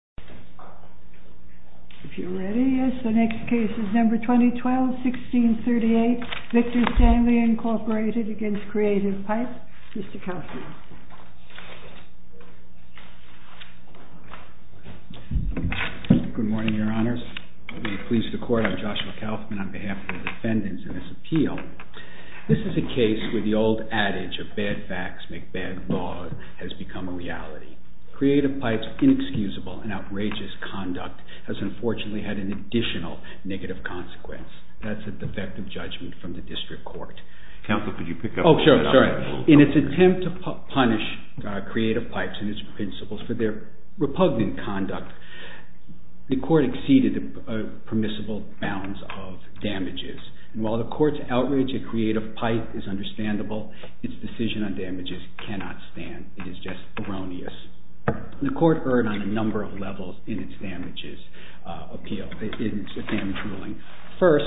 MR. KAUFMAN. Good morning, Your Honors. Pleased to court. I'm Joshua Kaufman on behalf of the defendants in this appeal. This is a case where the old adage of bad facts make bad laws has become a reality. Creative pipes are inexcusable, and I would like to ask Mr. Kaufman to comment on that. MR. KAUFMAN. In its attempt to punish Creative Pipes and its principals for their repugnant conduct, the court exceeded the permissible bounds of damages. And while the court's outrage at Creative Pipe is understandable, its decision on damages cannot stand. It is just erroneous. The court erred on a number of levels in its damage ruling. First,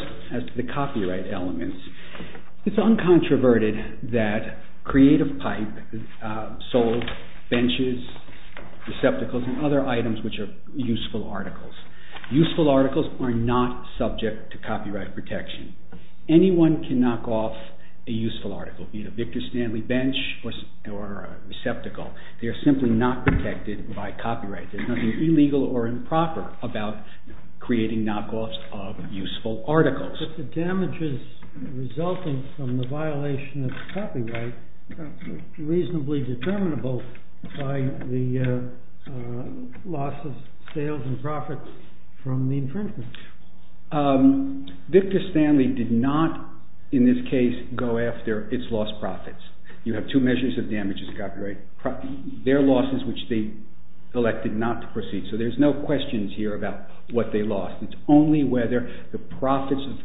the copyright elements. It's uncontroverted that Creative Pipe sold benches, receptacles, and other items which are useful articles. Useful articles are not subject to copyright protection. Anyone can knock off a useful article, be it a Victor Stanley bench or a receptacle. They are simply not protected by copyright. There's nothing illegal or improper about creating knockoffs of useful articles. But the damages resulting from the violation of copyright are reasonably determinable by the loss of sales and profits from the infringement. Victor Stanley did not, in this case, go after its lost profits. You have two measures of damages to copyright. Their losses, which they elected not to proceed. So there's no questions here about what they lost. It's only whether the profits of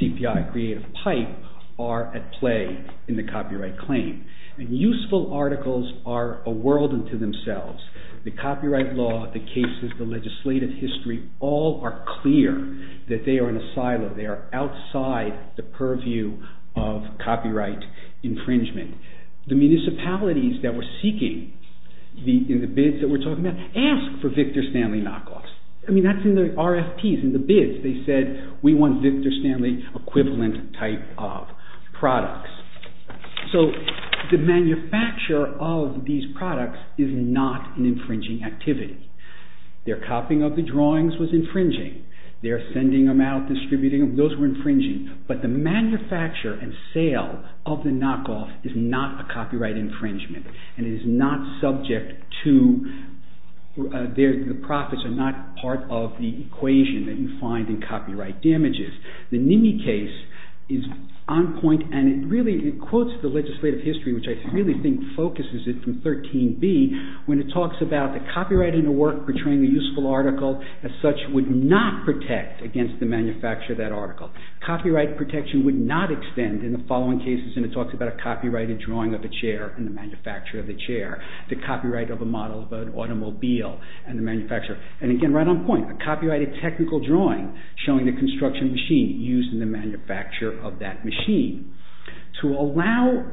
CPI Creative Pipe are at play in the copyright claim. And useful articles are a world unto themselves. The copyright law, the cases, the legislative history, all are clear that they are in a silo. They are outside the purview of copyright infringement. The municipalities that were seeking, in the bids that we're talking about, asked for Victor Stanley knockoffs. I mean, that's in the RFPs, in the bids. They said, we want Victor Stanley equivalent type of products. So the manufacture of these products is not an infringing activity. Their copying of the drawings was infringing. Their sending them out, distributing them, those were infringing. But the manufacture and sale of the knockoff is not a copyright infringement. And it is not subject to, the profits are not part of the equation that you find in copyright damages. The NIMI case is on point, and it really, it quotes the legislative history, which I really think focuses it from 13B, when it talks about the copyright in the work, portraying the useful article, as such, would not protect against the manufacture of that article. Copyright protection would not extend in the following cases, and it talks about a copyrighted drawing of a chair and the manufacture of the chair. The copyright of a model of an automobile and the manufacture. And again, right on point, a copyrighted technical drawing showing the construction machine used in the manufacture of that machine. To allow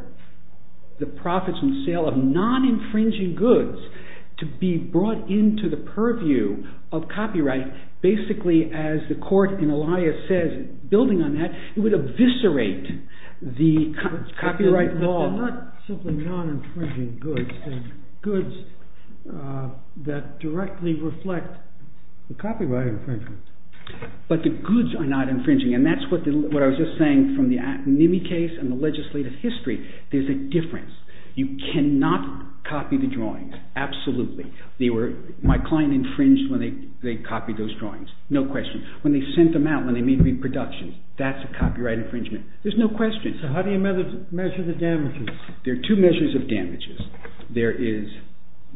the profits and sale of non-infringing goods to be brought into the purview of copyright, basically, as the court in Elias says, building on that, it would eviscerate the copyright law. They're not simply non-infringing goods, they're goods that directly reflect the copyright infringement. But the goods are not infringing, and that's what I was just saying from the NIMI case and the legislative history, there's a difference. You cannot copy the drawings, absolutely. My client infringed when they copied those drawings, no question. When they sent them out, when they made reproductions, that's a copyright infringement, there's no question. How do you measure the damages? There are two measures of damages. There is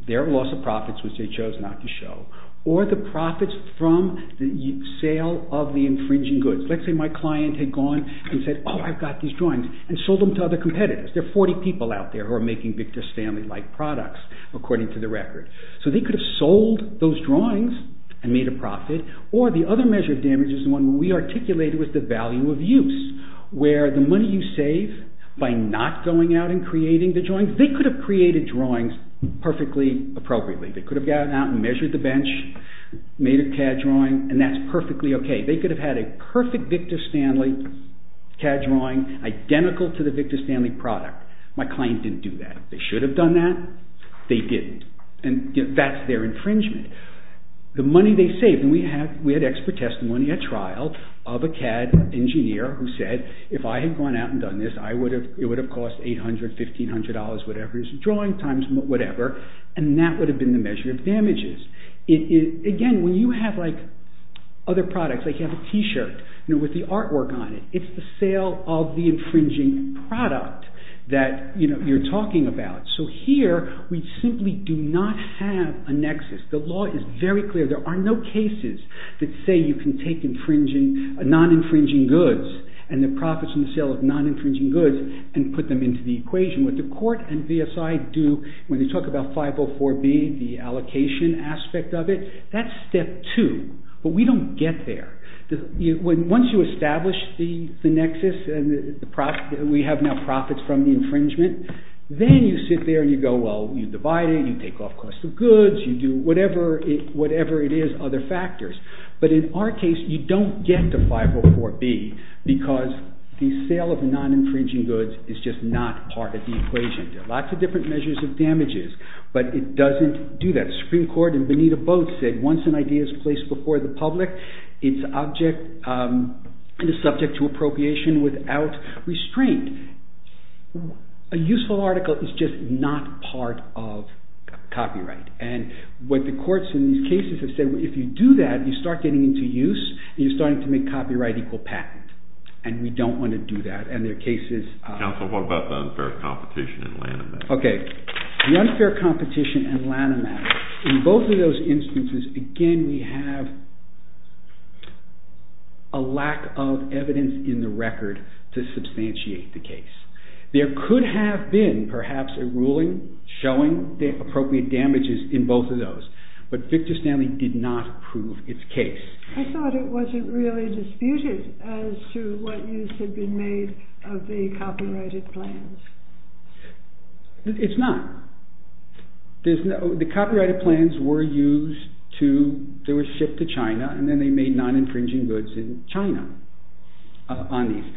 their loss of profits, which they chose not to show, or the profits from the sale of the infringing goods. Let's say my client had gone and said, oh, I've got these drawings, and sold them to other competitors. There are 40 people out there who are making Victor Stanley-like products, according to the record. So they could have sold those drawings and made a profit, or the other measure of damage is the one we articulated with the value of use, where the money you save by not going out and creating the drawings, they could have created drawings perfectly appropriately. They could have gone out and measured the bench, made a CAD drawing, and that's perfectly okay. They could have had a perfect Victor Stanley CAD drawing, identical to the Victor Stanley product. My client didn't do that. They should have done that, they didn't, and that's their infringement. The money they saved, and we had expert testimony at trial of a CAD engineer who said, if I had gone out and done this, it would have cost $800, $1,500, whatever is the drawing times, whatever, and that would have been the measure of damages. Again, when you have other products, like you have a t-shirt with the artwork on it, it's the sale of the infringing product that you're talking about. So here, we simply do not have a nexus. The law is very clear. There are no cases that say you can take non-infringing goods, and the profits in the sale of non-infringing goods, and put them into the equation. What the court and VSI do, when they talk about 504B, the allocation aspect of it, that's step two, but we don't get there. Once you establish the nexus, and we have now profits from the infringement, then you sit there and you go, well, you divide it, you take off cost of goods, you do whatever it is, other factors. But in our case, you don't get to 504B, because the sale of non-infringing goods is just not part of the equation. There are lots of different measures of damages, but it doesn't do that. The Supreme Court in Bonita Booth said, once an idea is placed before the public, it's subject to appropriation without restraint. A useful article is just not part of copyright, and what the courts in these cases have said, if you do that, you start getting into use, and you're starting to make copyright equal patent, and we don't want to do that. Counsel, what about the unfair competition and Lanham Act? The unfair competition and Lanham Act, in both of those instances, again, we have a lack of evidence in the record to substantiate the case. There could have been, perhaps, a ruling showing the appropriate damages in both of those, but Victor Stanley did not prove its case. I thought it wasn't really disputed as to what use had been made of the copyrighted plans. It's not. The copyrighted plans were used to, they were shipped to China, and then they made non-infringing goods in China on these,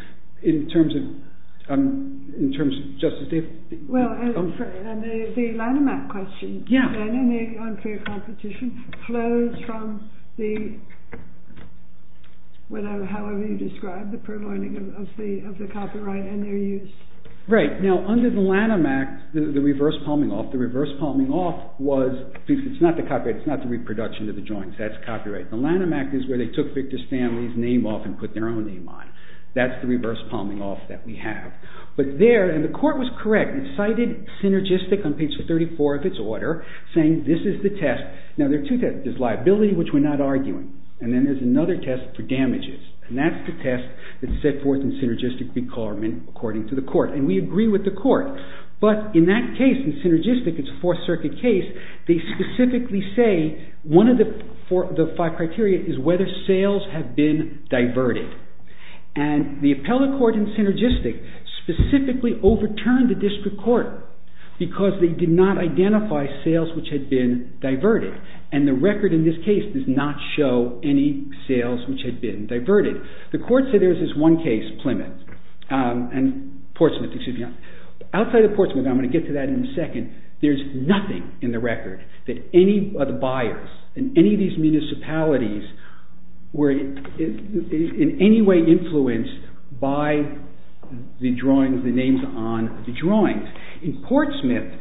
in terms of justice. Well, and the Lanham Act question, and the unfair competition, flows from the, however you describe the providing of the copyright and their use. Right. Now, under the Lanham Act, the reverse palming off, the reverse palming off was, it's not the copyright, it's not the reproduction of the joints, that's copyright. The Lanham Act is where they took Victor Stanley's name off and put their own name on. That's the reverse palming off that we have. But there, and the court was correct, it cited synergistic on page 34 of its order, saying this is the test. Now, there are two tests. There's liability, which we're not arguing, and then there's another test for damages. And that's the test that's set forth in synergistic requirement according to the court, and we agree with the court. But in that case, in synergistic, it's a Fourth Circuit case, they specifically say, one of the five criteria is whether sales have been diverted. And the appellate court in synergistic specifically overturned the district court because they did not identify sales which had been diverted. And the record in this case does not show any sales which had been diverted. The court said there's this one case, Plymouth, and Portsmouth, excuse me, outside of Portsmouth, and I'm going to get to that in a second, there's nothing in the record that any of the buyers in any of these municipalities were in any way influenced by the drawings, the names on the drawings. In Portsmouth,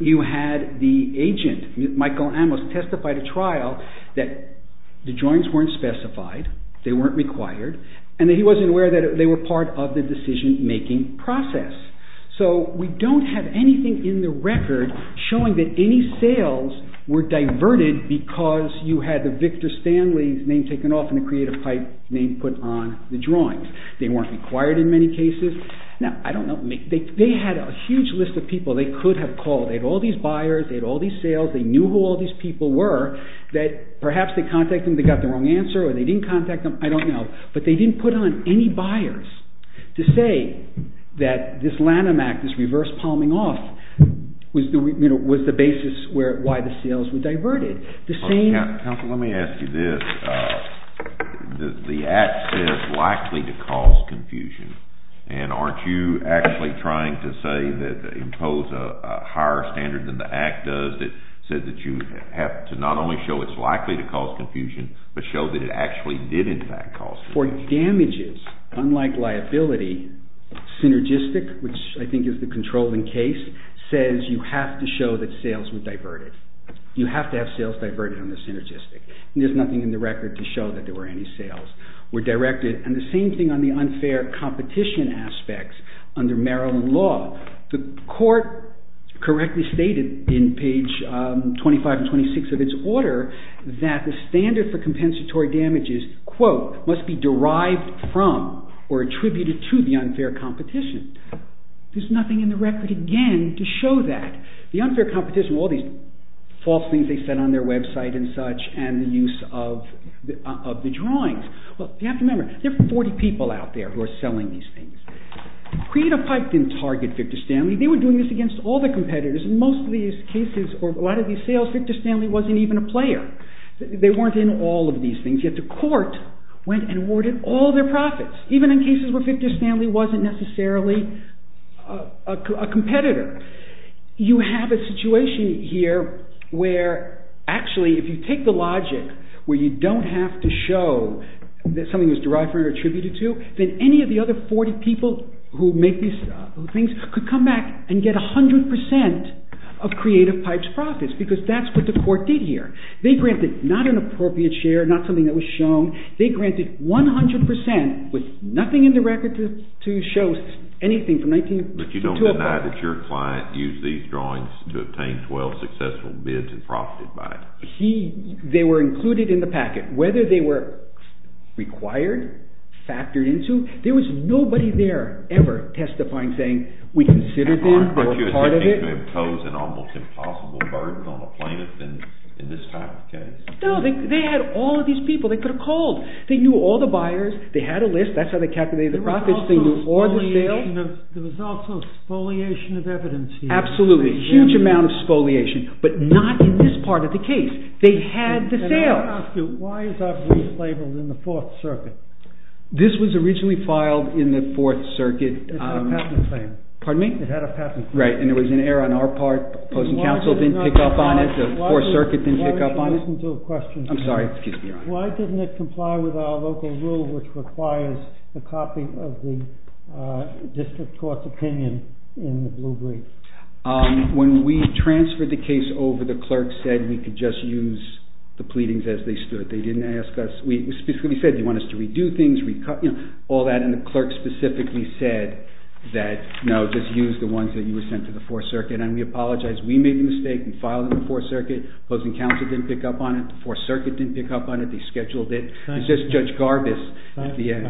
you had the agent, Michael Amos, testified at trial that the drawings weren't specified, they weren't required, and that he wasn't aware that they were part of the decision making process. So, we don't have anything in the record showing that any sales were diverted because you had the Victor Stanley name taken off and the Creative Pipe name put on the drawings. They weren't required in many cases. Now, I don't know, they had a huge list of people they could have called, they had all these buyers, they had all these sales, they knew who all these people were, that perhaps they contacted them, they got the wrong answer, or they didn't contact them, I don't know. But they didn't put on any buyers to say that this Lanham Act, this reverse palming off, was the basis why the sales were diverted. Counsel, let me ask you this. The Act says it's likely to cause confusion, and aren't you actually trying to say, impose a higher standard than the Act does that said that you have to not only show it's likely to cause confusion, but show that it actually did in fact cause confusion? For damages, unlike liability, synergistic, which I think is the controlling case, says you have to show that sales were diverted. You have to have sales diverted on the synergistic. There's nothing in the record to show that there were any sales were directed. And the same thing on the unfair competition aspects under Maryland law. The court correctly stated in page 25 and 26 of its order that the standard for compensatory damages, quote, must be derived from or attributed to the unfair competition. There's nothing in the record again to show that. The unfair competition, all these false things they said on their website and such, and the use of the drawings. You have to remember, there are 40 people out there who are selling these things. Credo Pike didn't target Victor Stanley. They were doing this against all their competitors. In most of these cases, or a lot of these sales, Victor Stanley wasn't even a player. They weren't in all of these things. Yet the court went and awarded all their profits, even in cases where Victor Stanley wasn't necessarily a competitor. You have a situation here where, actually, if you take the logic where you don't have to show that something was derived from or attributed to, then any of the other 40 people who make these things could come back and get 100% of Credo Pike's profits, because that's what the court did here. They granted not an appropriate share, not something that was shown. They granted 100% with nothing in the record to show anything from 19… But you don't deny that your client used these drawings to obtain 12 successful bids and profited by it? They were included in the packet. Whether they were required, factored into, there was nobody there ever testifying saying, we considered this, we're a part of it. But you're attempting to impose an almost impossible burden on a plaintiff in this type of case? No, they had all of these people they could have called. They knew all the buyers. They had a list. That's how they calculated the profits. There was also spoliation of evidence here. Absolutely. A huge amount of spoliation. But not in this part of the case. They had the sales. Can I ask you, why is our brief labeled in the Fourth Circuit? This was originally filed in the Fourth Circuit. It had a patent claim. Pardon me? It had a patent claim. Right. And there was an error on our part. Opposing counsel didn't pick up on it. The Fourth Circuit didn't pick up on it. I'm sorry. Excuse me. Why didn't it comply with our local rule, which requires a copy of the district court's opinion in the blue brief? When we transferred the case over, the clerk said we could just use the pleadings as they stood. They didn't ask us. We specifically said, do you want us to redo things? All that. And the clerk specifically said that, no, just use the ones that you were sent to the Fourth Circuit. And we apologized. We made the mistake in filing in the Fourth Circuit. Opposing counsel didn't pick up on it. The Fourth Circuit didn't pick up on it. They scheduled it. It's just Judge Garbus at the end.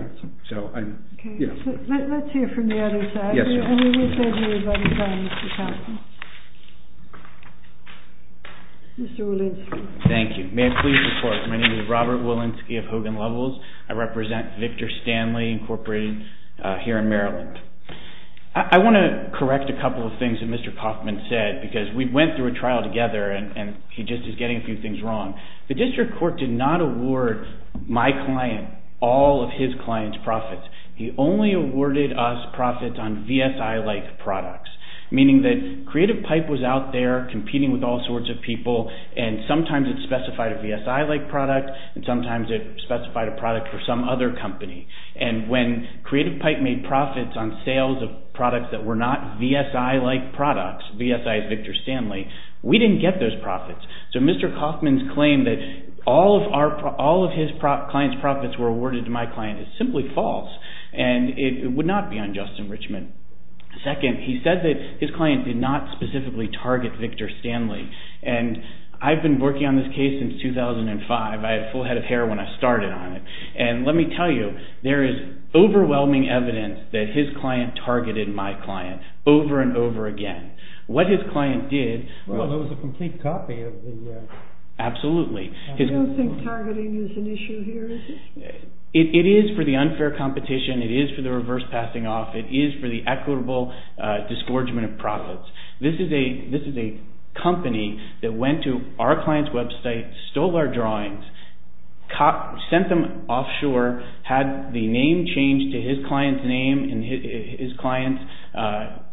So I'm, you know. Okay. Let's hear from the other side. Yes, ma'am. And we wish everybody well, Mr. Kaufman. Mr. Walensky. Thank you. May I please report? My name is Robert Walensky of Hogan Lovells. I represent Victor Stanley Incorporated here in Maryland. I want to correct a couple of things that Mr. Kaufman said, because we went through a trial together, and he just is getting a few things wrong. The district court did not award my client all of his client's profits. He only awarded us profits on VSI-like products, meaning that Creative Pipe was out there competing with all sorts of people, and sometimes it specified a VSI-like product, and sometimes it specified a product for some other company. And when Creative Pipe made profits on sales of products that were not VSI-like products, VSI is Victor Stanley, we didn't get those profits. So Mr. Kaufman's claim that all of his client's profits were awarded to my client is simply false, and it would not be unjust enrichment. Second, he said that his client did not specifically target Victor Stanley, and I've been working on this case since 2005. I had a full head of hair when I started on it, and let me tell you, there is overwhelming evidence that his client targeted my client over and over again. What his client did... Well, there was a complete copy of the... Absolutely. I don't think targeting is an issue here, is it? It is for the unfair competition, it is for the reverse passing off, it is for the equitable disgorgement of profits. This is a company that went to our client's website, stole our drawings, sent them offshore, had the name changed to his client's name and his client's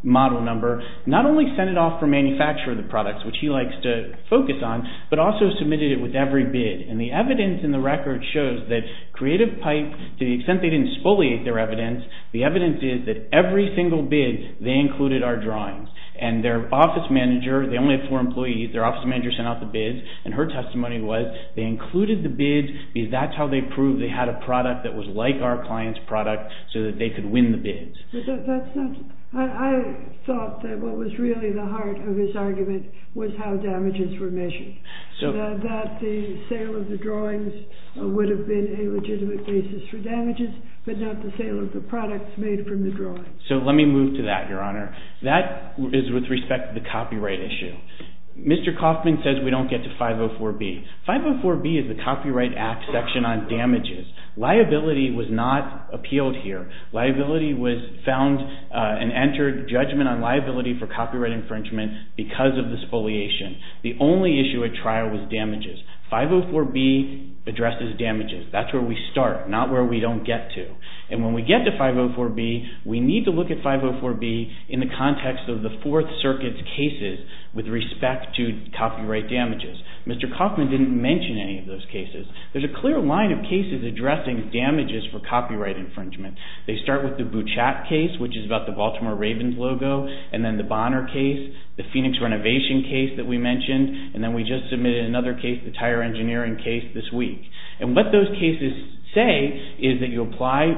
model number. Not only sent it off for manufacture of the products, which he likes to focus on, but also submitted it with every bid. And the evidence in the record shows that Creative Pipe, to the extent they didn't spoliate their evidence, the evidence is that every single bid they included our drawings. And their office manager, they only had four employees, their office manager sent out the bids, and her testimony was they included the bids because that's how they proved they had a product that was like our client's product so that they could win the bids. But that's not... I thought that what was really the heart of his argument was how damages were measured. So... That the sale of the drawings would have been a legitimate basis for damages, but not the sale of the products made from the drawings. So let me move to that, Your Honor. That is with respect to the copyright issue. Mr. Kaufman says we don't get to 504B. 504B is the Copyright Act section on damages. Liability was not appealed here. Liability was found and entered judgment on liability for copyright infringement because of the spoliation. The only issue at trial was damages. 504B addresses damages. That's where we start, not where we don't get to. And when we get to 504B, we need to look at 504B in the context of the Fourth Circuit's cases with respect to copyright damages. Mr. Kaufman didn't mention any of those cases. There's a clear line of cases addressing damages for copyright infringement. They start with the Bouchat case, which is about the Baltimore Ravens logo, and then the Bonner case, the Phoenix renovation case that we mentioned, and then we just submitted another case, the tire engineering case, this week. And what those cases say is that you apply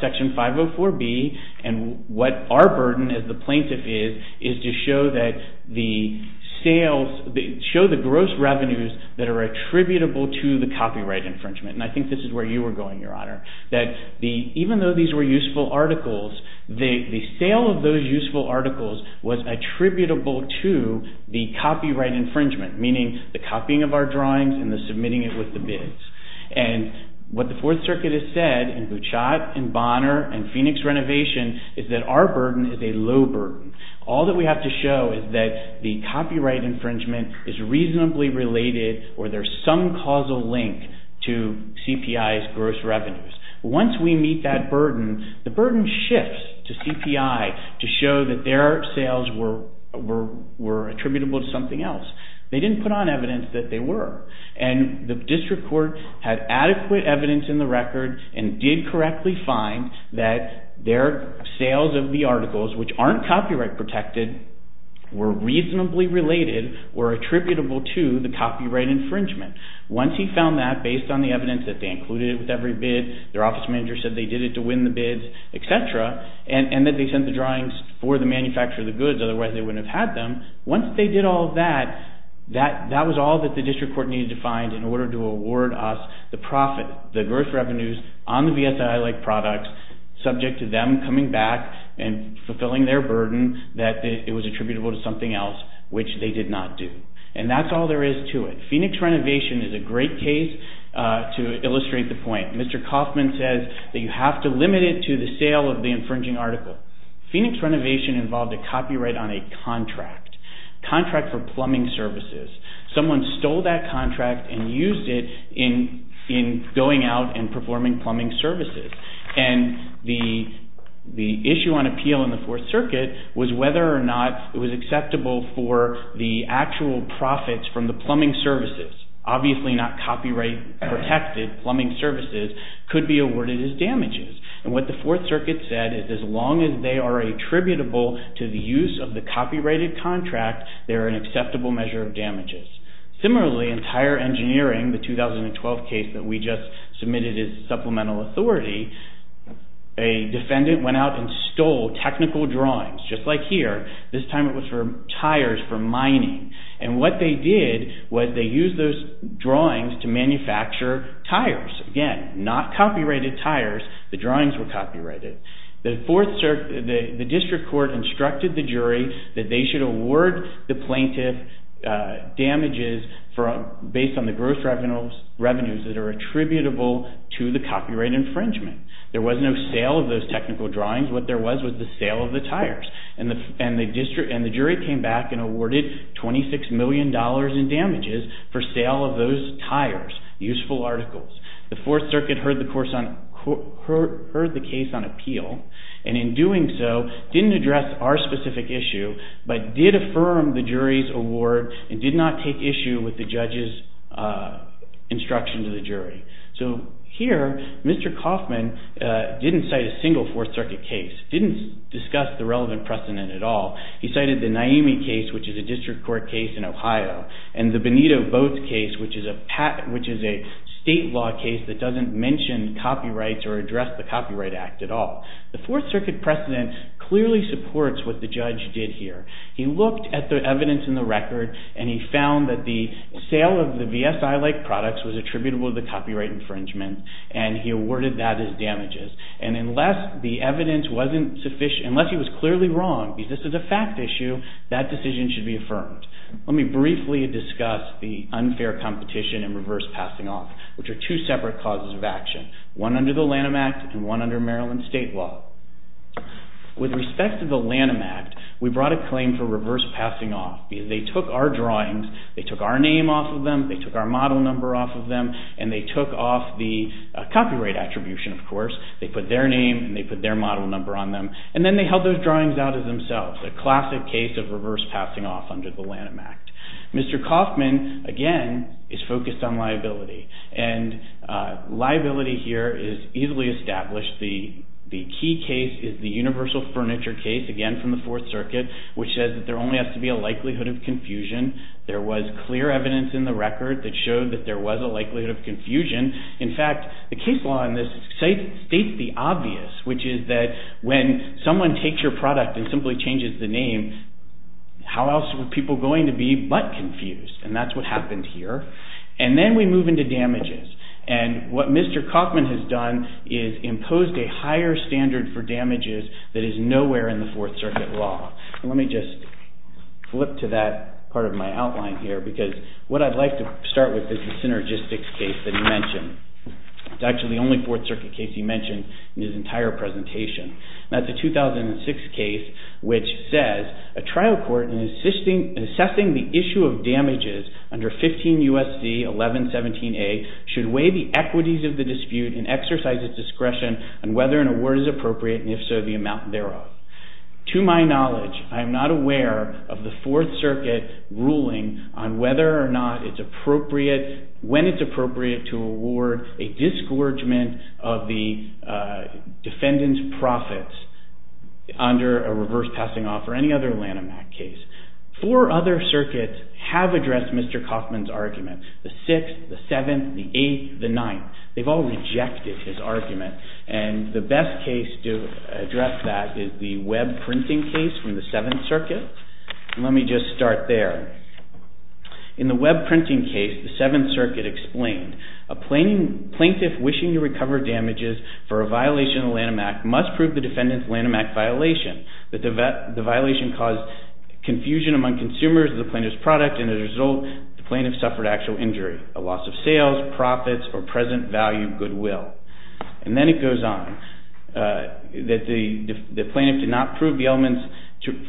Section 504B, and what our burden as the plaintiff is, is to show the gross revenues that are attributable to the copyright infringement. And I think this is where you were going, Your Honor. Even though these were useful articles, the sale of those useful articles was attributable to the copyright infringement, meaning the copying of our drawings and the submitting it with the bids. And what the Fourth Circuit has said in Bouchat and Bonner and Phoenix renovation is that our burden is a low burden. All that we have to show is that the copyright infringement is reasonably related or there's some causal link to CPI's gross revenues. Once we meet that burden, the burden shifts to CPI to show that their sales were attributable to something else. They didn't put on evidence that they were. And the district court had adequate evidence in the record and did correctly find that their sales of the articles, which aren't copyright protected, were reasonably related or attributable to the copyright infringement. Once he found that, based on the evidence that they included it with every bid, their office manager said they did it to win the bids, etc., and that they sent the drawings for the manufacture of the goods, otherwise they wouldn't have had them. Once they did all that, that was all that the district court needed to find in order to award us the profit, the gross revenues on the VSI-like products, subject to them coming back and fulfilling their burden that it was attributable to something else, which they did not do. And that's all there is to it. Phoenix renovation is a great case to illustrate the point. Mr. Kaufman says that you have to limit it to the sale of the infringing article. Phoenix renovation involved a copyright on a contract, contract for plumbing services. Someone stole that contract and used it in going out and performing plumbing services. And the issue on appeal in the Fourth Circuit was whether or not it was acceptable for the actual profits from the plumbing services, obviously not copyright protected plumbing services, could be awarded as damages. And what the Fourth Circuit said is as long as they are attributable to the use of the copyrighted contract, they are an acceptable measure of damages. Similarly, in tire engineering, the 2012 case that we just submitted as supplemental authority, a defendant went out and stole technical drawings, just like here. This time it was for tires for mining. And what they did was they used those drawings to manufacture tires. Again, not copyrighted tires. The drawings were copyrighted. The District Court instructed the jury that they should award the plaintiff damages based on the gross revenues that are attributable to the copyright infringement. There was no sale of those technical drawings. What there was was the sale of the tires. And the jury came back and awarded $26 million in damages for sale of those tires, useful articles. The Fourth Circuit heard the case on appeal, and in doing so, didn't address our specific issue, but did affirm the jury's award and did not take issue with the judge's instruction to the jury. So here, Mr. Kaufman didn't cite a single Fourth Circuit case, didn't discuss the relevant precedent at all. He cited the Naemi case, which is a District Court case in Ohio, and the Benito Boats case, which is a state law case that doesn't mention copyrights or address the Copyright Act at all. The Fourth Circuit precedent clearly supports what the judge did here. He looked at the evidence in the record, and he found that the sale of the VSI-like products was attributable to the copyright infringement, and he awarded that as damages. And unless the evidence wasn't sufficient, unless he was clearly wrong, because this is a fact issue, that decision should be affirmed. Let me briefly discuss the unfair competition and reverse passing off, which are two separate causes of action, one under the Lanham Act and one under Maryland state law. With respect to the Lanham Act, we brought a claim for reverse passing off. They took our drawings, they took our name off of them, they took our model number off of them, and they took off the copyright attribution, of course. They put their name and they put their model number on them, and then they held those drawings out as themselves, a classic case of reverse passing off under the Lanham Act. Mr. Kaufman, again, is focused on liability, and liability here is easily established. The key case is the universal furniture case, again, from the Fourth Circuit, which says that there only has to be a likelihood of confusion. There was clear evidence in the record that showed that there was a likelihood of confusion. In fact, the case law in this states the obvious, which is that when someone takes your product and simply changes the name, how else were people going to be but confused? And that's what happened here. And then we move into damages, and what Mr. Kaufman has done is imposed a higher standard for damages that is nowhere in the Fourth Circuit law. Let me just flip to that part of my outline here, because what I'd like to start with is the synergistics case that he mentioned. It's actually the only Fourth Circuit case he mentioned in his entire presentation. That's a 2006 case which says, a trial court in assessing the issue of damages under 15 U.S.C. 1117A should weigh the equities of the dispute and exercise its discretion on whether an award is appropriate, and if so, the amount thereof. To my knowledge, I am not aware of the Fourth Circuit ruling on whether or not it's appropriate, when it's appropriate to award a disgorgement of the defendant's profits under a reverse passing off or any other Lanham Act case. Four other circuits have addressed Mr. Kaufman's argument, the sixth, the seventh, the eighth, the ninth. They've all rejected his argument, and the best case to address that is the web printing case from the Seventh Circuit. Let me just start there. In the web printing case, the Seventh Circuit explained, a plaintiff wishing to recover damages for a violation of the Lanham Act must prove the defendant's Lanham Act violation. The violation caused confusion among consumers of the plaintiff's product, and as a result, the plaintiff suffered actual injury, a loss of sales, profits, or present value goodwill. And then it goes on that the plaintiff did not prove the elements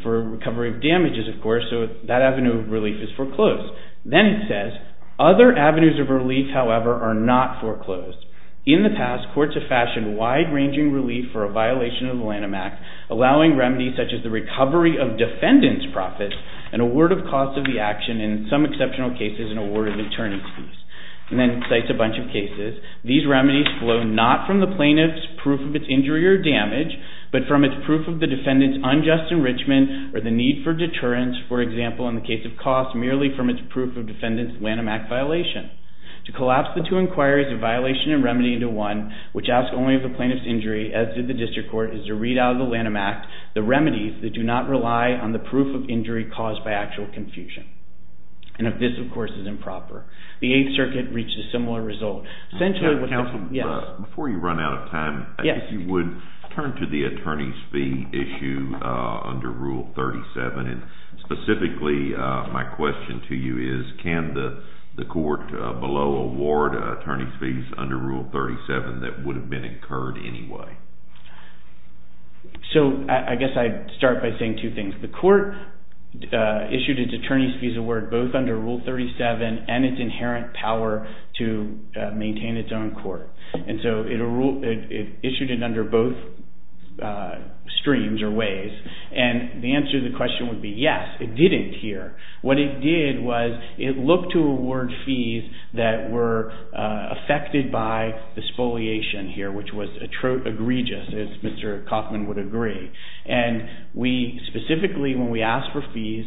for recovery of damages, of course, so that avenue of relief is foreclosed. Then it says, other avenues of relief, however, are not foreclosed. In the past, courts have fashioned wide-ranging relief for a violation of the Lanham Act, allowing remedies such as the recovery of defendant's profits, an award of cost of the action in some exceptional cases, and award of attorney's fees. And then it cites a bunch of cases. These remedies flow not from the plaintiff's proof of its injury or damage, but from its proof of the defendant's unjust enrichment or the need for deterrence, for example, in the case of cost, merely from its proof of defendant's Lanham Act violation. To collapse the two inquiries of violation and remedy into one, which asks only of the plaintiff's injury, as did the district court, is to read out of the Lanham Act the remedies that do not rely on the proof of injury caused by actual confusion. And this, of course, is improper. The Eighth Circuit reached a similar result. Counsel, before you run out of time, I guess you would turn to the attorney's fee issue under Rule 37. And specifically, my question to you is, can the court below award attorney's fees under Rule 37 that would have been incurred anyway? So I guess I'd start by saying two things. The court issued its attorney's fees award both under Rule 37 and its inherent power to maintain its own court. And so it issued it under both streams or ways. And the answer to the question would be yes, it didn't here. What it did was it looked to award fees that were affected by the spoliation here, which was egregious, as Mr. Kaufman would agree. And we specifically, when we asked for fees,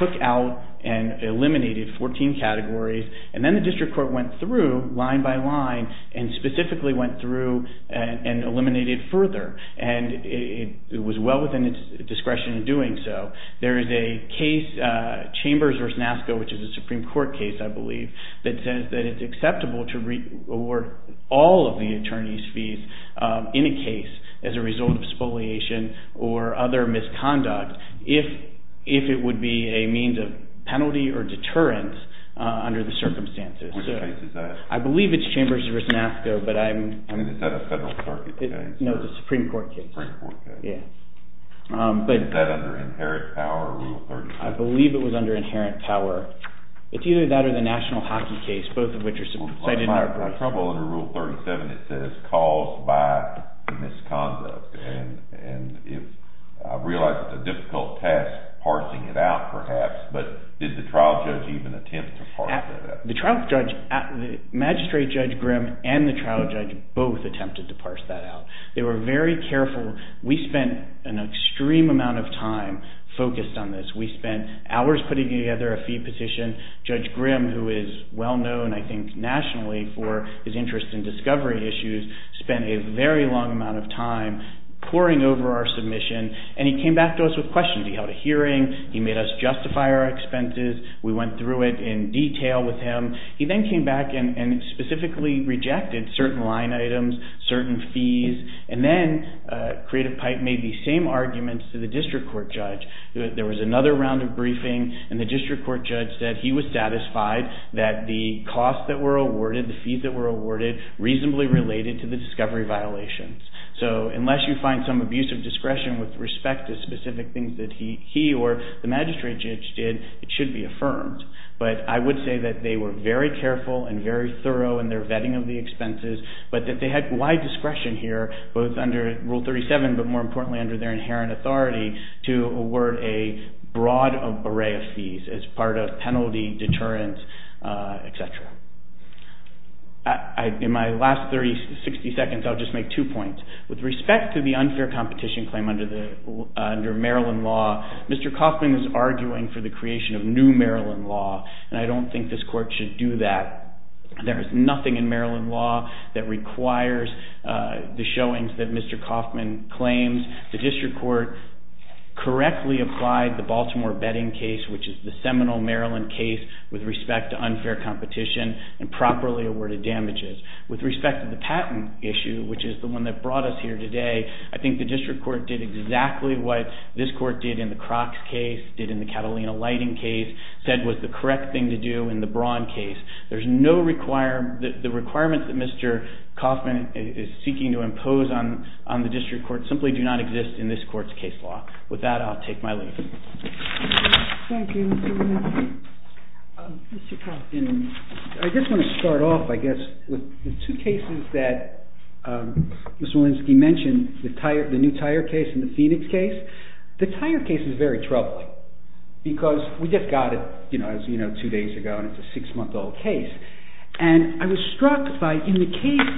took out and eliminated 14 categories. And then the district court went through line by line and specifically went through and eliminated further. And it was well within its discretion in doing so. There is a case, Chambers v. NASCA, which is a Supreme Court case, I believe, that says that it's acceptable to award all of the attorney's fees in a case as a result of spoliation or other misconduct if it would be a means of penalty or deterrence under the circumstances. Which case is that? I believe it's Chambers v. NASCA, but I'm— Is that a federal court case? No, it's a Supreme Court case. Supreme Court case. Yeah. Is that under inherent power or Rule 37? I believe it was under inherent power. It's either that or the national hockey case, both of which are cited in our briefs. My trouble under Rule 37, it says caused by misconduct. And I realize it's a difficult task parsing it out, perhaps, but did the trial judge even attempt to parse that out? The trial judge—Magistrate Judge Grimm and the trial judge both attempted to parse that out. They were very careful. We spent an extreme amount of time focused on this. We spent hours putting together a fee petition. Judge Grimm, who is well-known, I think, nationally for his interest in discovery issues, spent a very long amount of time poring over our submission, and he came back to us with questions. He held a hearing. He made us justify our expenses. We went through it in detail with him. He then came back and specifically rejected certain line items, certain fees, and then Creative Pipe made these same arguments to the district court judge. There was another round of briefing, and the district court judge said he was satisfied that the costs that were awarded, the fees that were awarded, reasonably related to the discovery violations. So unless you find some abuse of discretion with respect to specific things that he or the magistrate judge did, it should be affirmed. But I would say that they were very careful and very thorough in their vetting of the expenses, but that they had wide discretion here, both under Rule 37, but more importantly under their inherent authority, to award a broad array of fees as part of penalty, deterrence, et cetera. In my last 30, 60 seconds, I'll just make two points. With respect to the unfair competition claim under Maryland law, Mr. Kaufman is arguing for the creation of new Maryland law, and I don't think this court should do that. There is nothing in Maryland law that requires the showings that Mr. Kaufman claims. The district court correctly applied the Baltimore betting case, which is the seminal Maryland case with respect to unfair competition, and properly awarded damages. With respect to the patent issue, which is the one that brought us here today, I think the district court did exactly what this court did in the Crocs case, did in the Catalina lighting case, said was the correct thing to do in the Braun case. The requirements that Mr. Kaufman is seeking to impose on the district court simply do not exist in this court's case law. With that, I'll take my leave. Thank you, Mr. Walensky. Mr. Kaufman, I just want to start off, I guess, with the two cases that Mr. Walensky mentioned, the new tire case and the Phoenix case. The tire case is very troubling, because we just got it, you know, two days ago, and it's a six-month-old case. And I was struck by, in the case,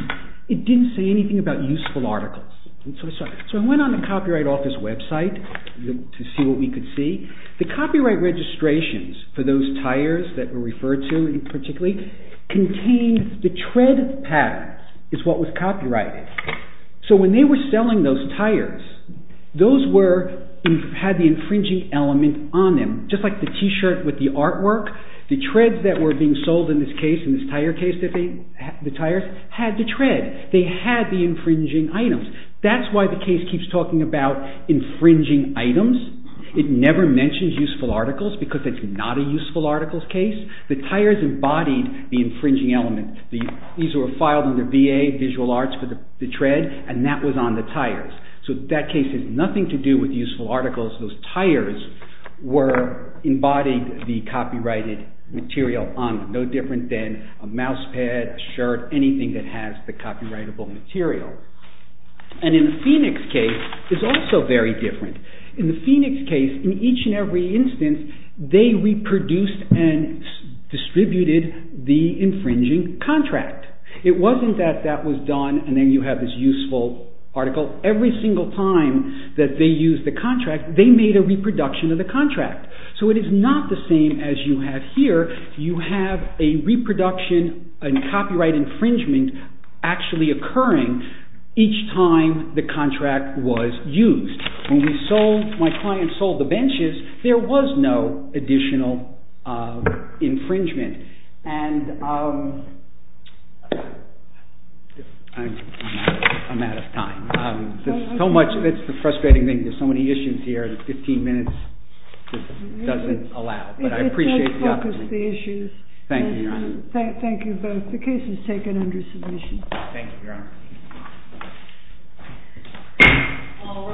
it didn't say anything about useful articles. So I went on the Copyright Office website to see what we could see. The copyright registrations for those tires that were referred to, particularly, contained the tread pattern is what was copyrighted. So when they were selling those tires, those had the infringing element on them, just like the T-shirt with the artwork. The treads that were being sold in this case, in this tire case, the tires had the tread. They had the infringing items. That's why the case keeps talking about infringing items. It never mentions useful articles, because it's not a useful articles case. The tires embodied the infringing element. These were filed under VA Visual Arts for the tread, and that was on the tires. So that case has nothing to do with useful articles. Those tires were embodying the copyrighted material on them, no different than a mouse pad, a shirt, anything that has the copyrightable material. And in the Phoenix case, it's also very different. In the Phoenix case, in each and every instance, they reproduced and distributed the infringing contract. It wasn't that that was done, and then you have this useful article. Every single time that they used the contract, they made a reproduction of the contract. So it is not the same as you have here. You have a reproduction and copyright infringement actually occurring each time the contract was used. When my client sold the benches, there was no additional infringement. And I'm out of time. It's the frustrating thing. There's so many issues here that 15 minutes doesn't allow. But I appreciate the opportunity. It does focus the issues. Thank you, Your Honor. Thank you both. The case is taken under submission. Thank you, Your Honor. All rise.